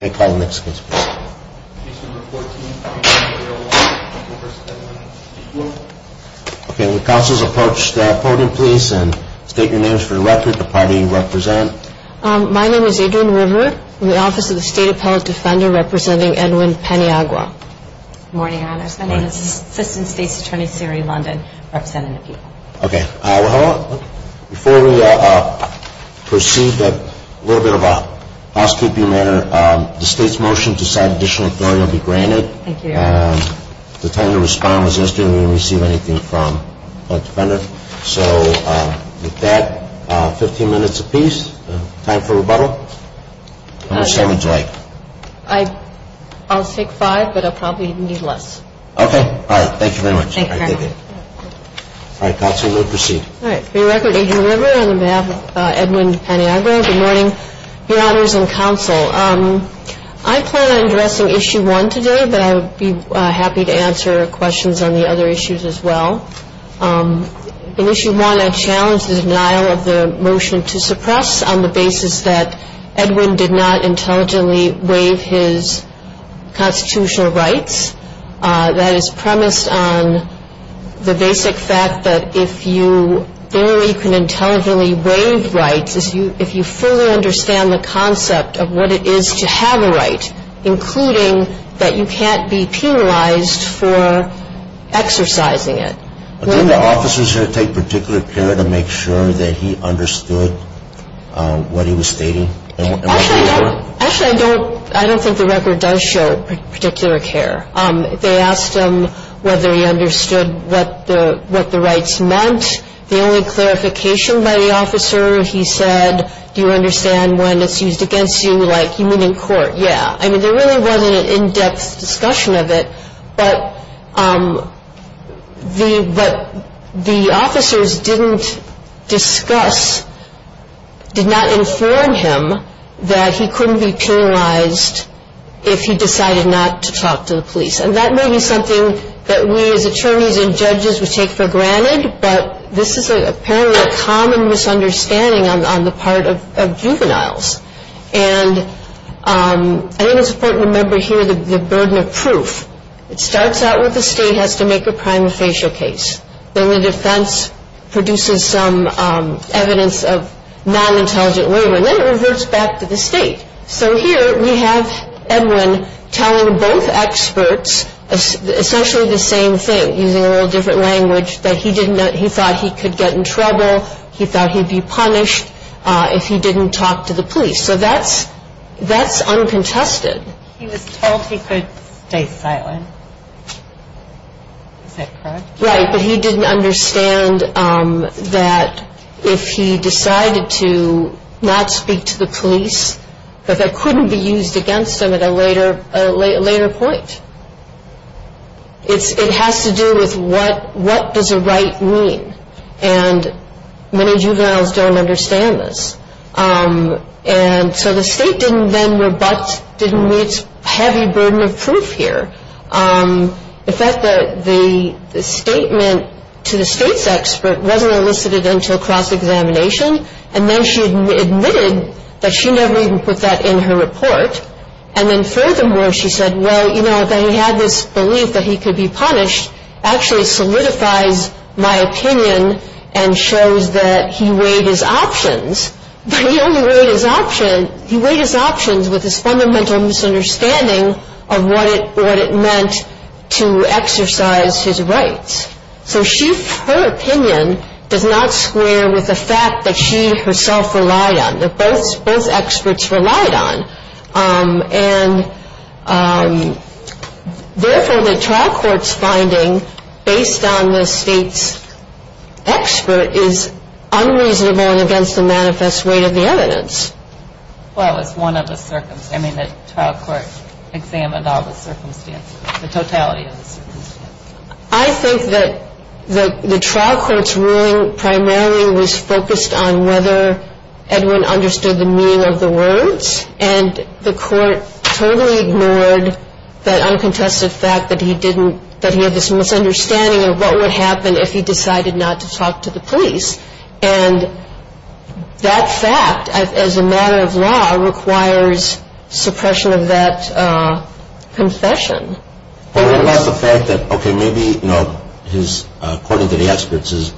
Good morning Your Honors, my name is Assistant State's Attorney Siri London, representing the people. Before we proceed, a little bit of a housekeeping matter. The State's motion to sign additional authority will be granted. The time to respond was yesterday and we didn't receive anything from a defender. So with that, 15 minutes apiece, time for rebuttal. How much time would you like? I'll take five, but I'll probably need less. Okay, all right, thank you very much. Thank you. All right, Counsel, we'll proceed. All right, for your record, Adrian River, on behalf of Edwin Paniagua, good morning, Your Honors and Counsel. I plan on addressing Issue 1 today, but I would be happy to answer questions on the other issues as well. In Issue 1, I challenge the denial of the motion to suppress on the basis that Edwin did not intelligently waive his constitutional rights. That is premised on the basic fact that if you can intelligently waive rights, if you fully understand the concept of what it is to have a right, including that you can't be penalized for exercising it. Didn't the officer take particular care to make sure that he understood what he was stating? Actually, I don't think the record does show particular care. They asked him whether he understood what the rights meant. The only clarification by the officer, he said, do you understand when it's used against you, like you mean in court, yeah. I mean, there really wasn't an in-depth discussion of it, but the officers didn't discuss, did not inform him that he couldn't be penalized if he decided not to talk to the police. And that may be something that we as attorneys and judges would take for granted, but this is apparently a common misunderstanding on the part of juveniles. And I think it's important to remember here the burden of proof. It starts out with the state has to make a prima facie case. Then the defense produces some evidence of non-intelligent waiver, and then it reverts back to the state. So here we have Edwin telling both experts essentially the same thing, using a whole different language, that he thought he could get in trouble, he thought he'd be punished if he didn't talk to the police. So that's uncontested. He was told he could stay silent. Is that correct? Right, but he didn't understand that if he decided to not speak to the police, that that what does a right mean? And many juveniles don't understand this. And so the state didn't then rebut, didn't meet heavy burden of proof here. In fact, the statement to the state's expert wasn't elicited until cross-examination, and then she admitted that she never even put that in her report. And then furthermore, she said, well, you know, that he had this actually solidifies my opinion and shows that he weighed his options, but he only weighed his options with his fundamental misunderstanding of what it meant to exercise his rights. So her opinion does not square with the fact that she herself relied on, that both experts relied on. And therefore, the trial court's finding, based on the state's expert, is unreasonable and against the manifest weight of the evidence. Well, it's one of the circumstances. I mean, the trial court examined all the circumstances, the totality of the circumstances. I think that the trial court's ruling primarily was focused on whether Edwin understood the meaning of the words, and the court totally ignored the uncontested fact that he didn't, that he had this misunderstanding of what would happen if he decided not to talk to the police. And that fact, as a matter of law, requires suppression of that confession. But what about the fact that, okay, maybe, you know, his, according to the experts, his And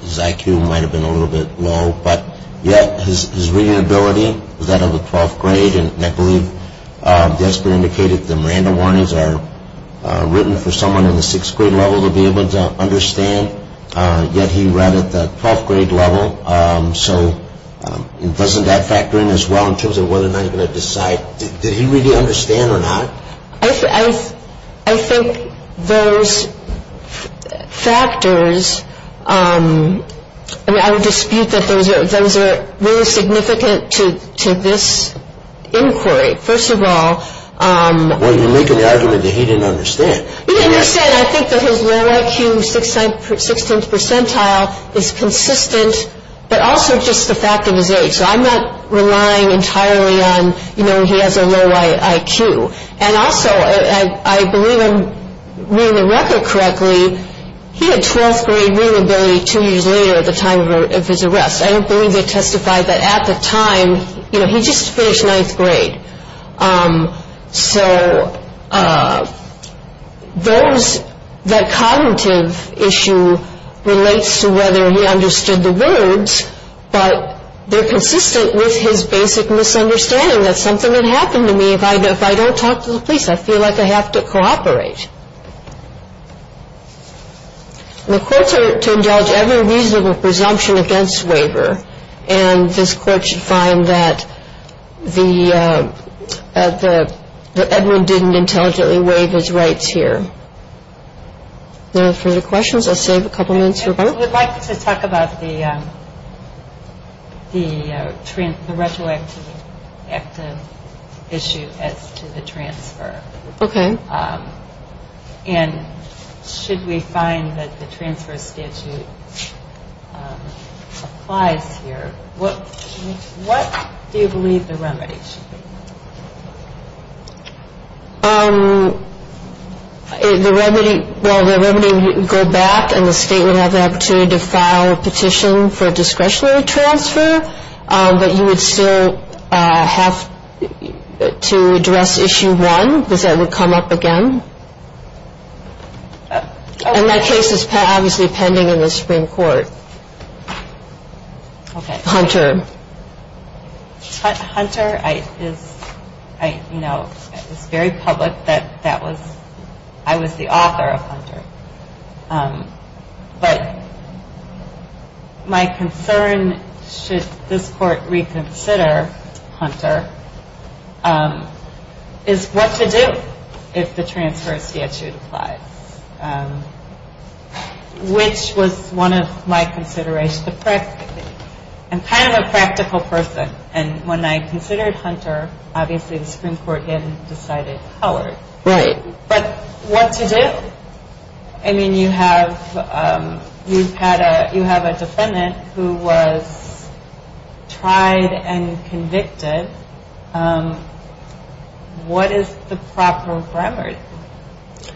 I believe the expert indicated the Miranda warnings are written for someone in the sixth-grade level to be able to understand, yet he read at the twelfth-grade level. So doesn't that factor in as well in terms of whether or not he's going to decide, did he really understand or not? I think those factors, I mean, I would dispute that those are really significant to this inquiry. First of all, Well, you're making the argument that he didn't understand. He didn't understand. I think that his low IQ, sixteenth percentile, is consistent, but also just the fact of his age. So I'm not relying entirely on, you know, he has a low IQ. And also, I believe I'm reading the record correctly, he had twelfth-grade readability two years later at the time of his arrest. I don't believe they testified that at the time, you know, he just finished ninth grade. So those, that cognitive issue relates to whether he understood the words, but they're consistent with his basic misunderstanding that something had happened to me If I don't talk to the police, I feel like I have to cooperate. The courts are to indulge every reasonable presumption against waiver, and this court should find that Edwin didn't intelligently waive his rights here. No further questions? I'll save a couple minutes for Mark. We'd like to talk about the retroactive issue as to the transfer. Okay. And should we find that the transfer statute applies here? What do you believe the remedy should be? The remedy, well, the remedy would go back, and the state would have the opportunity to file a petition for discretionary transfer, but you would still have to address issue one, because that would come up again. And that case is obviously pending in the Supreme Court. Okay. Hunter. Hunter is, you know, it's very public that I was the author of Hunter. But my concern, should this court reconsider Hunter, is what to do if the transfer statute applies, which was one of my considerations. I'm kind of a practical person, and when I considered Hunter, obviously the Supreme Court had decided Howard. Right. But what to do? I mean, you have a defendant who was tried and convicted. What is the proper remedy?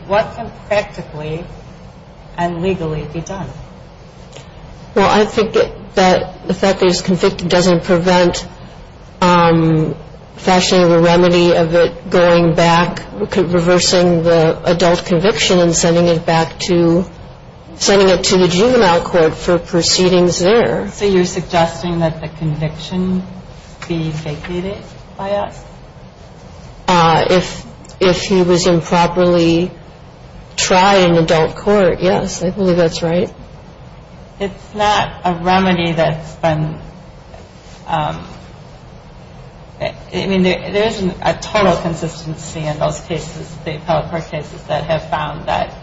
What can practically and legally be done? Well, I think that the fact that he was convicted doesn't prevent fashioning a remedy of it going back, reversing the adult conviction and sending it back to the juvenile court for proceedings there. So you're suggesting that the conviction be vacated by us? If he was improperly tried in adult court, yes, I believe that's right. It's not a remedy that's been, I mean, there isn't a total consistency in those cases, the appellate court cases that have found that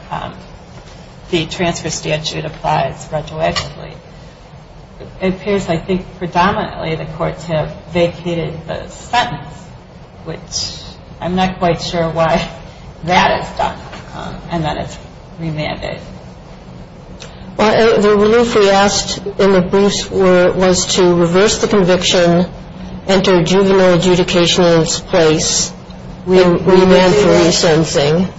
the transfer statute applies retroactively. It appears, I think, predominantly the courts have vacated the sentence, which I'm not quite sure why that is done and that it's remanded. The relief we asked in the briefs was to reverse the conviction, enter juvenile adjudication in its place, remand for resentencing.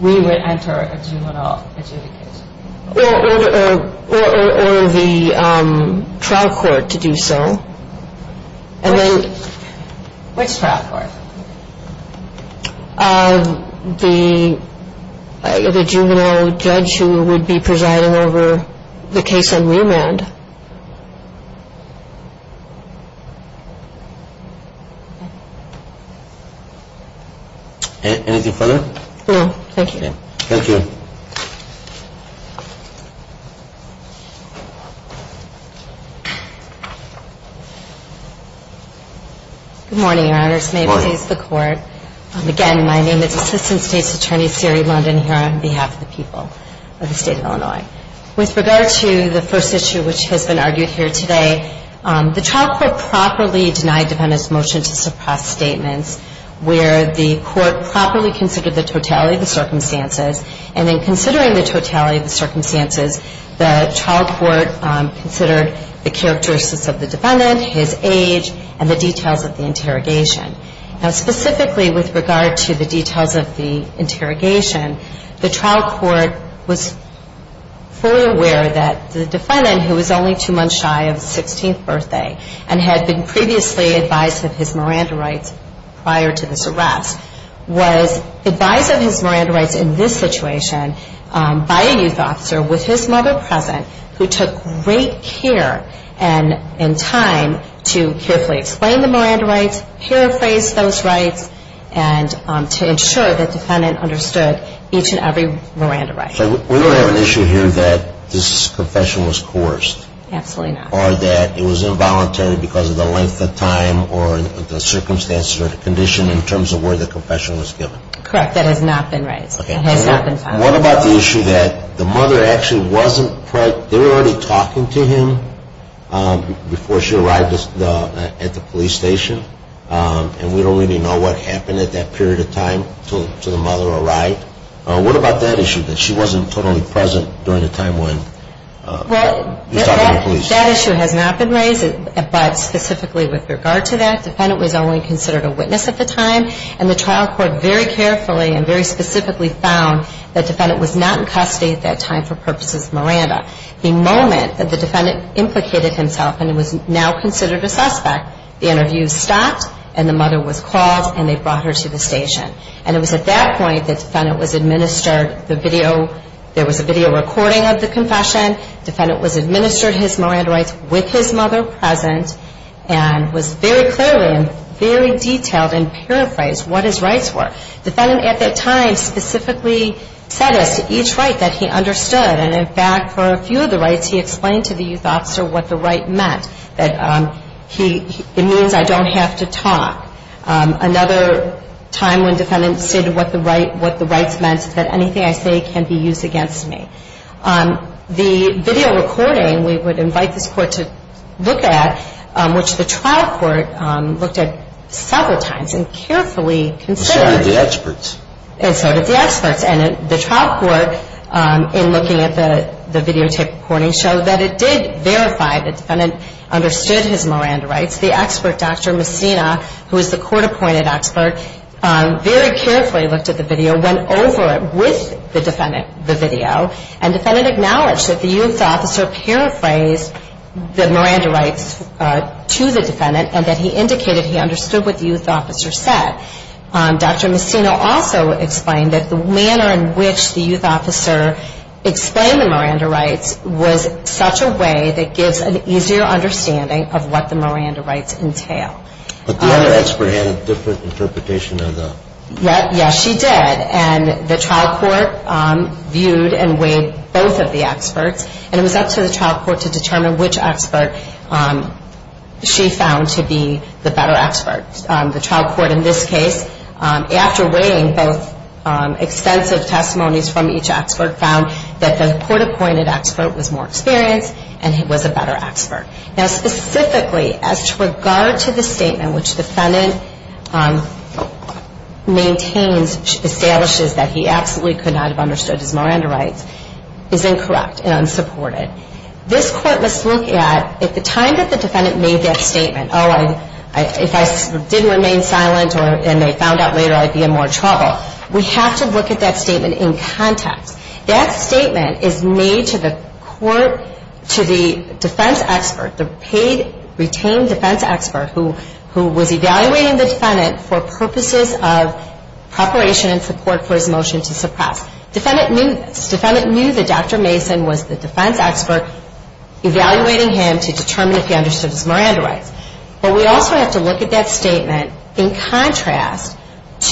We would enter a juvenile adjudication. Or the trial court to do so. Which trial court? The juvenile judge who would be presiding over the case on remand. No, thank you. Thank you. Good morning, Your Honors. Good morning. May it please the Court. Again, my name is Assistant State's Attorney Siri London here on behalf of the people of the State of Illinois. With regard to the first issue which has been argued here today, the trial court properly denied defendant's motion to suppress statements where the court properly considered the totality of the circumstances. And in considering the totality of the circumstances, the trial court considered the characteristics of the defendant, his age, and the details of the interrogation. Now, specifically with regard to the details of the interrogation, the trial court was fully aware that the defendant, who was only two months shy of his 16th birthday and had been previously advised of his Miranda rights prior to this arrest, was advised of his Miranda rights in this situation by a youth officer with his mother present who took great care and time to carefully explain the Miranda rights, paraphrase those rights, and to ensure that the defendant understood each and every Miranda right. So we don't have an issue here that this confession was coerced. Absolutely not. Or that it was involuntary because of the length of time or the circumstances or the condition in terms of where the confession was given. Correct. That has not been raised. What about the issue that the mother actually wasn't present? They were already talking to him before she arrived at the police station, and we don't really know what happened at that period of time until the mother arrived. What about that issue, that she wasn't totally present during the time when he was talking to police? That issue has not been raised, but specifically with regard to that, the defendant was only considered a witness at the time, and the trial court very carefully and very specifically found that the defendant was not in custody at that time for purposes of Miranda. The moment that the defendant implicated himself and was now considered a suspect, the interview stopped and the mother was called and they brought her to the station. And it was at that point that the defendant was administered the video. There was a video recording of the confession. The defendant was administered his Miranda rights with his mother present and was very clearly and very detailed in paraphrasing what his rights were. The defendant at that time specifically said as to each right that he understood, and in fact for a few of the rights he explained to the youth officer what the right meant, that it means I don't have to talk. Another time when the defendant stated what the rights meant, that anything I say can be used against me. The video recording we would invite this court to look at, which the trial court looked at several times and carefully considered. And so did the experts. And so did the experts. And the trial court, in looking at the videotape recording, showed that it did verify the defendant understood his Miranda rights. The expert, Dr. Messina, who is the court-appointed expert, very carefully looked at the video, went over it with the defendant, the video, and the defendant acknowledged that the youth officer paraphrased the Miranda rights to the defendant and that he indicated he understood what the youth officer said. Dr. Messina also explained that the manner in which the youth officer explained the Miranda rights was such a way that gives an easier understanding of what the Miranda rights entail. But the other expert had a different interpretation of the. Yes, she did. And the trial court viewed and weighed both of the experts. And it was up to the trial court to determine which expert she found to be the better expert. The trial court in this case, after weighing both extensive testimonies from each expert, found that the court-appointed expert was more experienced and was a better expert. Now, specifically, as to regard to the statement which the defendant maintains, establishes that he absolutely could not have understood his Miranda rights, is incorrect and unsupported. This court must look at, at the time that the defendant made that statement, oh, if I didn't remain silent and they found out later I'd be in more trouble, we have to look at that statement in context. That statement is made to the defense expert, the paid retained defense expert, who was evaluating the defendant for purposes of preparation and support for his motion to suppress. Defendant knew this. Defendant knew that Dr. Mason was the defense expert evaluating him to determine if he understood his Miranda rights. But we also have to look at that statement in contrast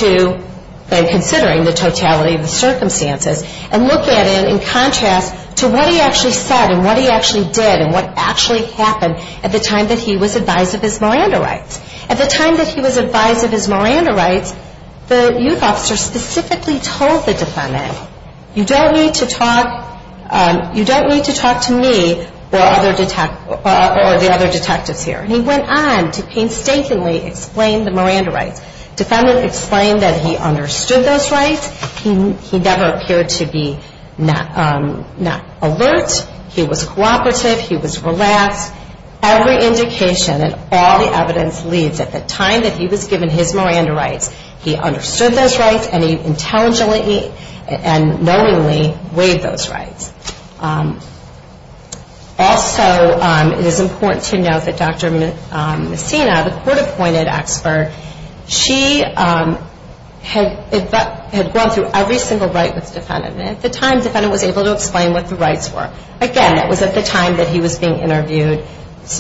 to then considering the totality of the circumstances and look at it in contrast to what he actually said and what he actually did and what actually happened at the time that he was advised of his Miranda rights. At the time that he was advised of his Miranda rights, the youth officer specifically told the defendant, you don't need to talk to me or the other detectives here. And he went on to painstakingly explain the Miranda rights. Defendant explained that he understood those rights. He never appeared to be alert. He was cooperative. He was relaxed. Every indication and all the evidence leads at the time that he was given his Miranda rights, he understood those rights and he intelligently and knowingly waived those rights. Also, it is important to note that Dr. Messina, the court-appointed expert, she had gone through every single right with the defendant. At the time, the defendant was able to explain what the rights were. Again, that was at the time that he was being interviewed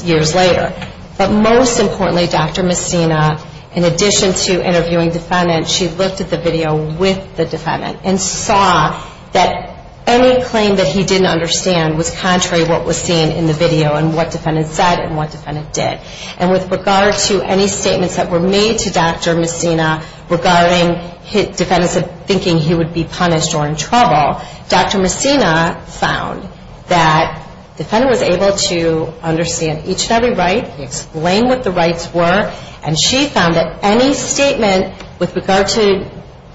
years later. But most importantly, Dr. Messina, in addition to interviewing the defendant, she looked at the video with the defendant and saw that any claim that he didn't understand was contrary to what was seen in the video and what the defendant said and what the defendant did. And with regard to any statements that were made to Dr. Messina regarding defendants thinking he would be punished or in trouble, Dr. Messina found that the defendant was able to understand each and every right. He explained what the rights were. And she found that any statement with regard to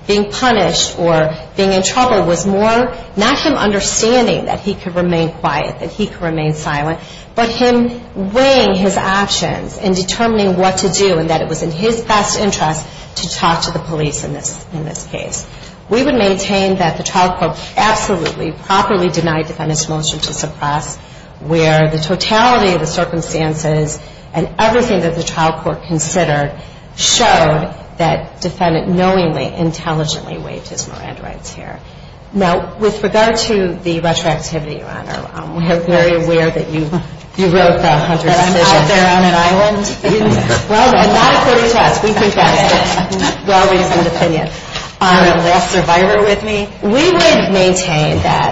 being punished or being in trouble was more not him understanding that he could remain quiet, that he could remain silent, but him weighing his options and determining what to do and that it was in his best interest to talk to the police in this case. We would maintain that the trial court absolutely, properly denied the defendant's motion to suppress where the totality of the circumstances and everything that the trial court considered showed that the defendant knowingly, intelligently waived his Miranda rights here. We are very aware that you wrote the Hunter decision. That I'm out there on an island? Well, not according to us. We can trust it. You're always independent. You're a less survivor with me? We would maintain that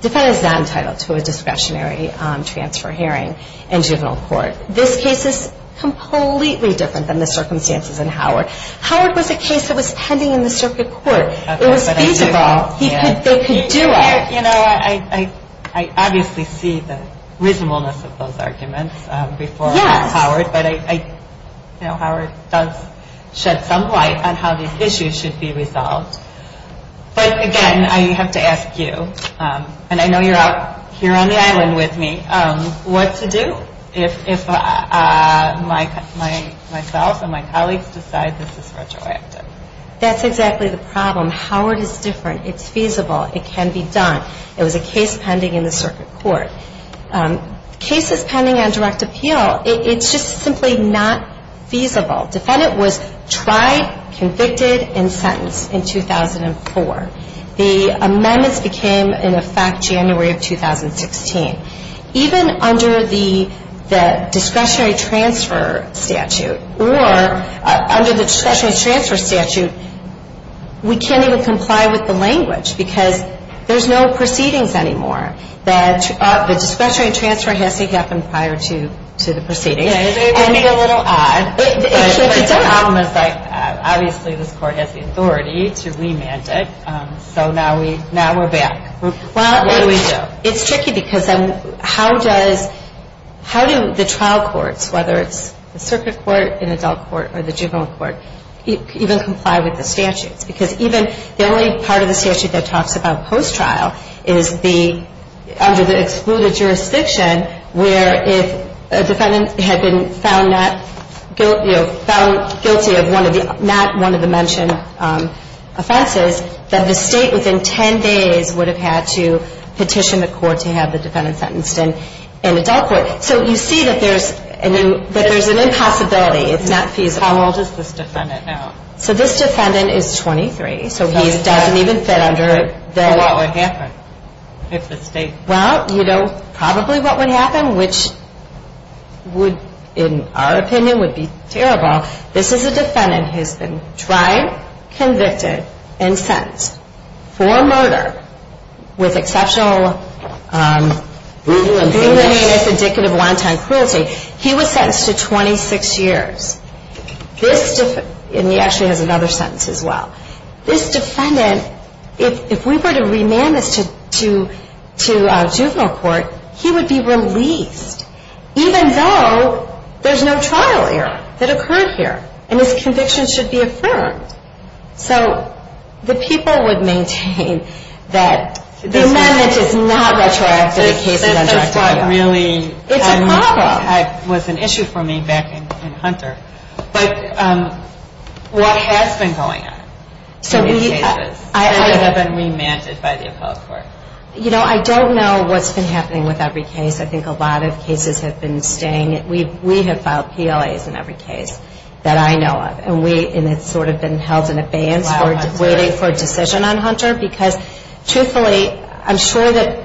the defendant is not entitled to a discretionary transfer hearing in juvenile court. This case is completely different than the circumstances in Howard. Howard was a case that was pending in the circuit court. It was feasible. They could do it. I obviously see the reasonableness of those arguments before Howard, but Howard does shed some light on how these issues should be resolved. But again, I have to ask you, and I know you're out here on the island with me, what to do if myself and my colleagues decide this is retroactive? That's exactly the problem. Howard is different. It's feasible. It can be done. It was a case pending in the circuit court. Cases pending on direct appeal, it's just simply not feasible. Defendant was tried, convicted, and sentenced in 2004. The amendments became in effect January of 2016. Even under the discretionary transfer statute, or under the discretionary transfer statute, we can't even comply with the language because there's no proceedings anymore. The discretionary transfer has to happen prior to the proceedings. It may be a little odd, but the problem is that obviously this court has the authority to remand it, so now we're back. What do we do? It's tricky because then how do the trial courts, whether it's the circuit court, an adult court, or the juvenile court, even comply with the statutes? Because even the only part of the statute that talks about post-trial is under the excluded jurisdiction where if a defendant had been found guilty of not one of the mentioned offenses, then the state within 10 days would have had to petition the court to have the defendant sentenced in an adult court. So you see that there's an impossibility. It's not feasible. How old is this defendant now? This defendant is 23, so he doesn't even fit under the... What would happen if the state... Well, you know, probably what would happen, which in our opinion would be terrible, this is a defendant who's been tried, convicted, and sentenced for murder with exceptional... Brutal and heinous... Brutal and heinous, indicative of long-time cruelty. He was sentenced to 26 years. And he actually has another sentence as well. This defendant, if we were to remand this to juvenile court, he would be released, even though there's no trial error that occurred here, and his conviction should be affirmed. So the people would maintain that the amendment is not retroactive in cases under Act of Appeal. It's a problem. It was an issue for me back in Hunter. But what has been going on in these cases that have been remanded by the appellate court? You know, I don't know what's been happening with every case. I think a lot of cases have been staying... We have filed PLAs in every case that I know of. And it's sort of been held in abeyance, waiting for a decision on Hunter. Because truthfully, I'm sure that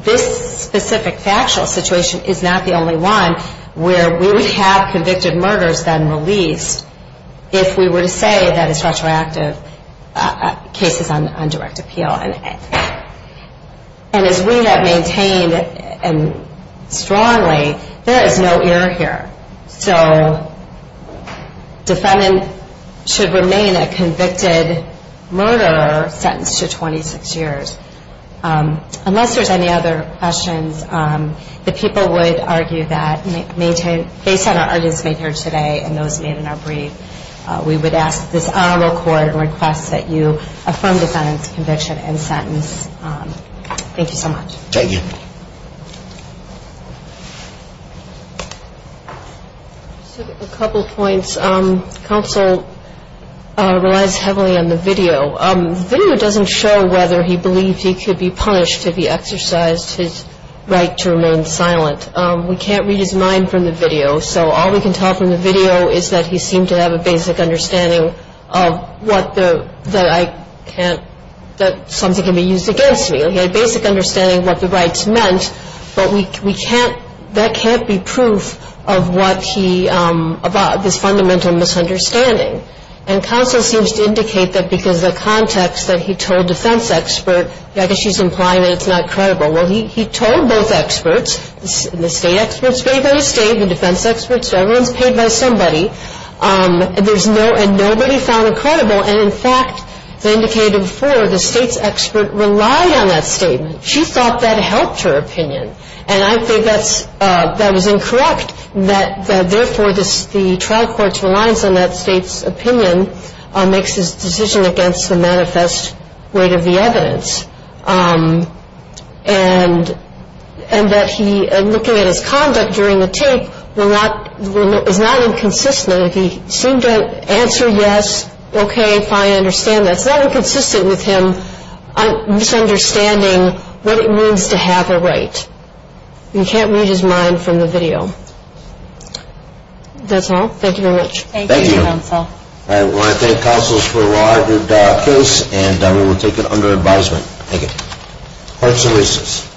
this specific factual situation is not the only one where we would have convicted murderers then released if we were to say that it's retroactive cases on direct appeal. And as we have maintained strongly, there is no error here. So defendant should remain a convicted murderer sentenced to 26 years. Unless there's any other questions, the people would argue that based on our arguments made here today and those made in our brief, we would ask this honorable court to request that you Thank you so much. Thank you. A couple points. Counsel relies heavily on the video. The video doesn't show whether he believed he could be punished if he exercised his right to remain silent. We can't read his mind from the video. So all we can tell from the video is that he seemed to have a basic understanding of what the... that something can be used against me. He had a basic understanding of what the rights meant. But we can't, that can't be proof of what he, of this fundamental misunderstanding. And counsel seems to indicate that because the context that he told defense expert, I guess she's implying that it's not credible. Well, he told both experts, the state experts paid by the state, the defense experts, so everyone's paid by somebody. And nobody found it credible. And, in fact, as I indicated before, the state's expert relied on that statement. She thought that helped her opinion. And I think that's, that was incorrect, that therefore the trial court's reliance on that state's opinion makes his decision against the manifest weight of the evidence. And that he, looking at his conduct during the tape, was not inconsistent. He seemed to answer yes, okay, fine, I understand that. It's not inconsistent with him misunderstanding what it means to have a right. You can't read his mind from the video. That's all. Thank you very much. Thank you. Thank you, counsel. All right, we want to thank counsels for a well-argued case. And we will take it under advisement. Thank you. Court is in recess.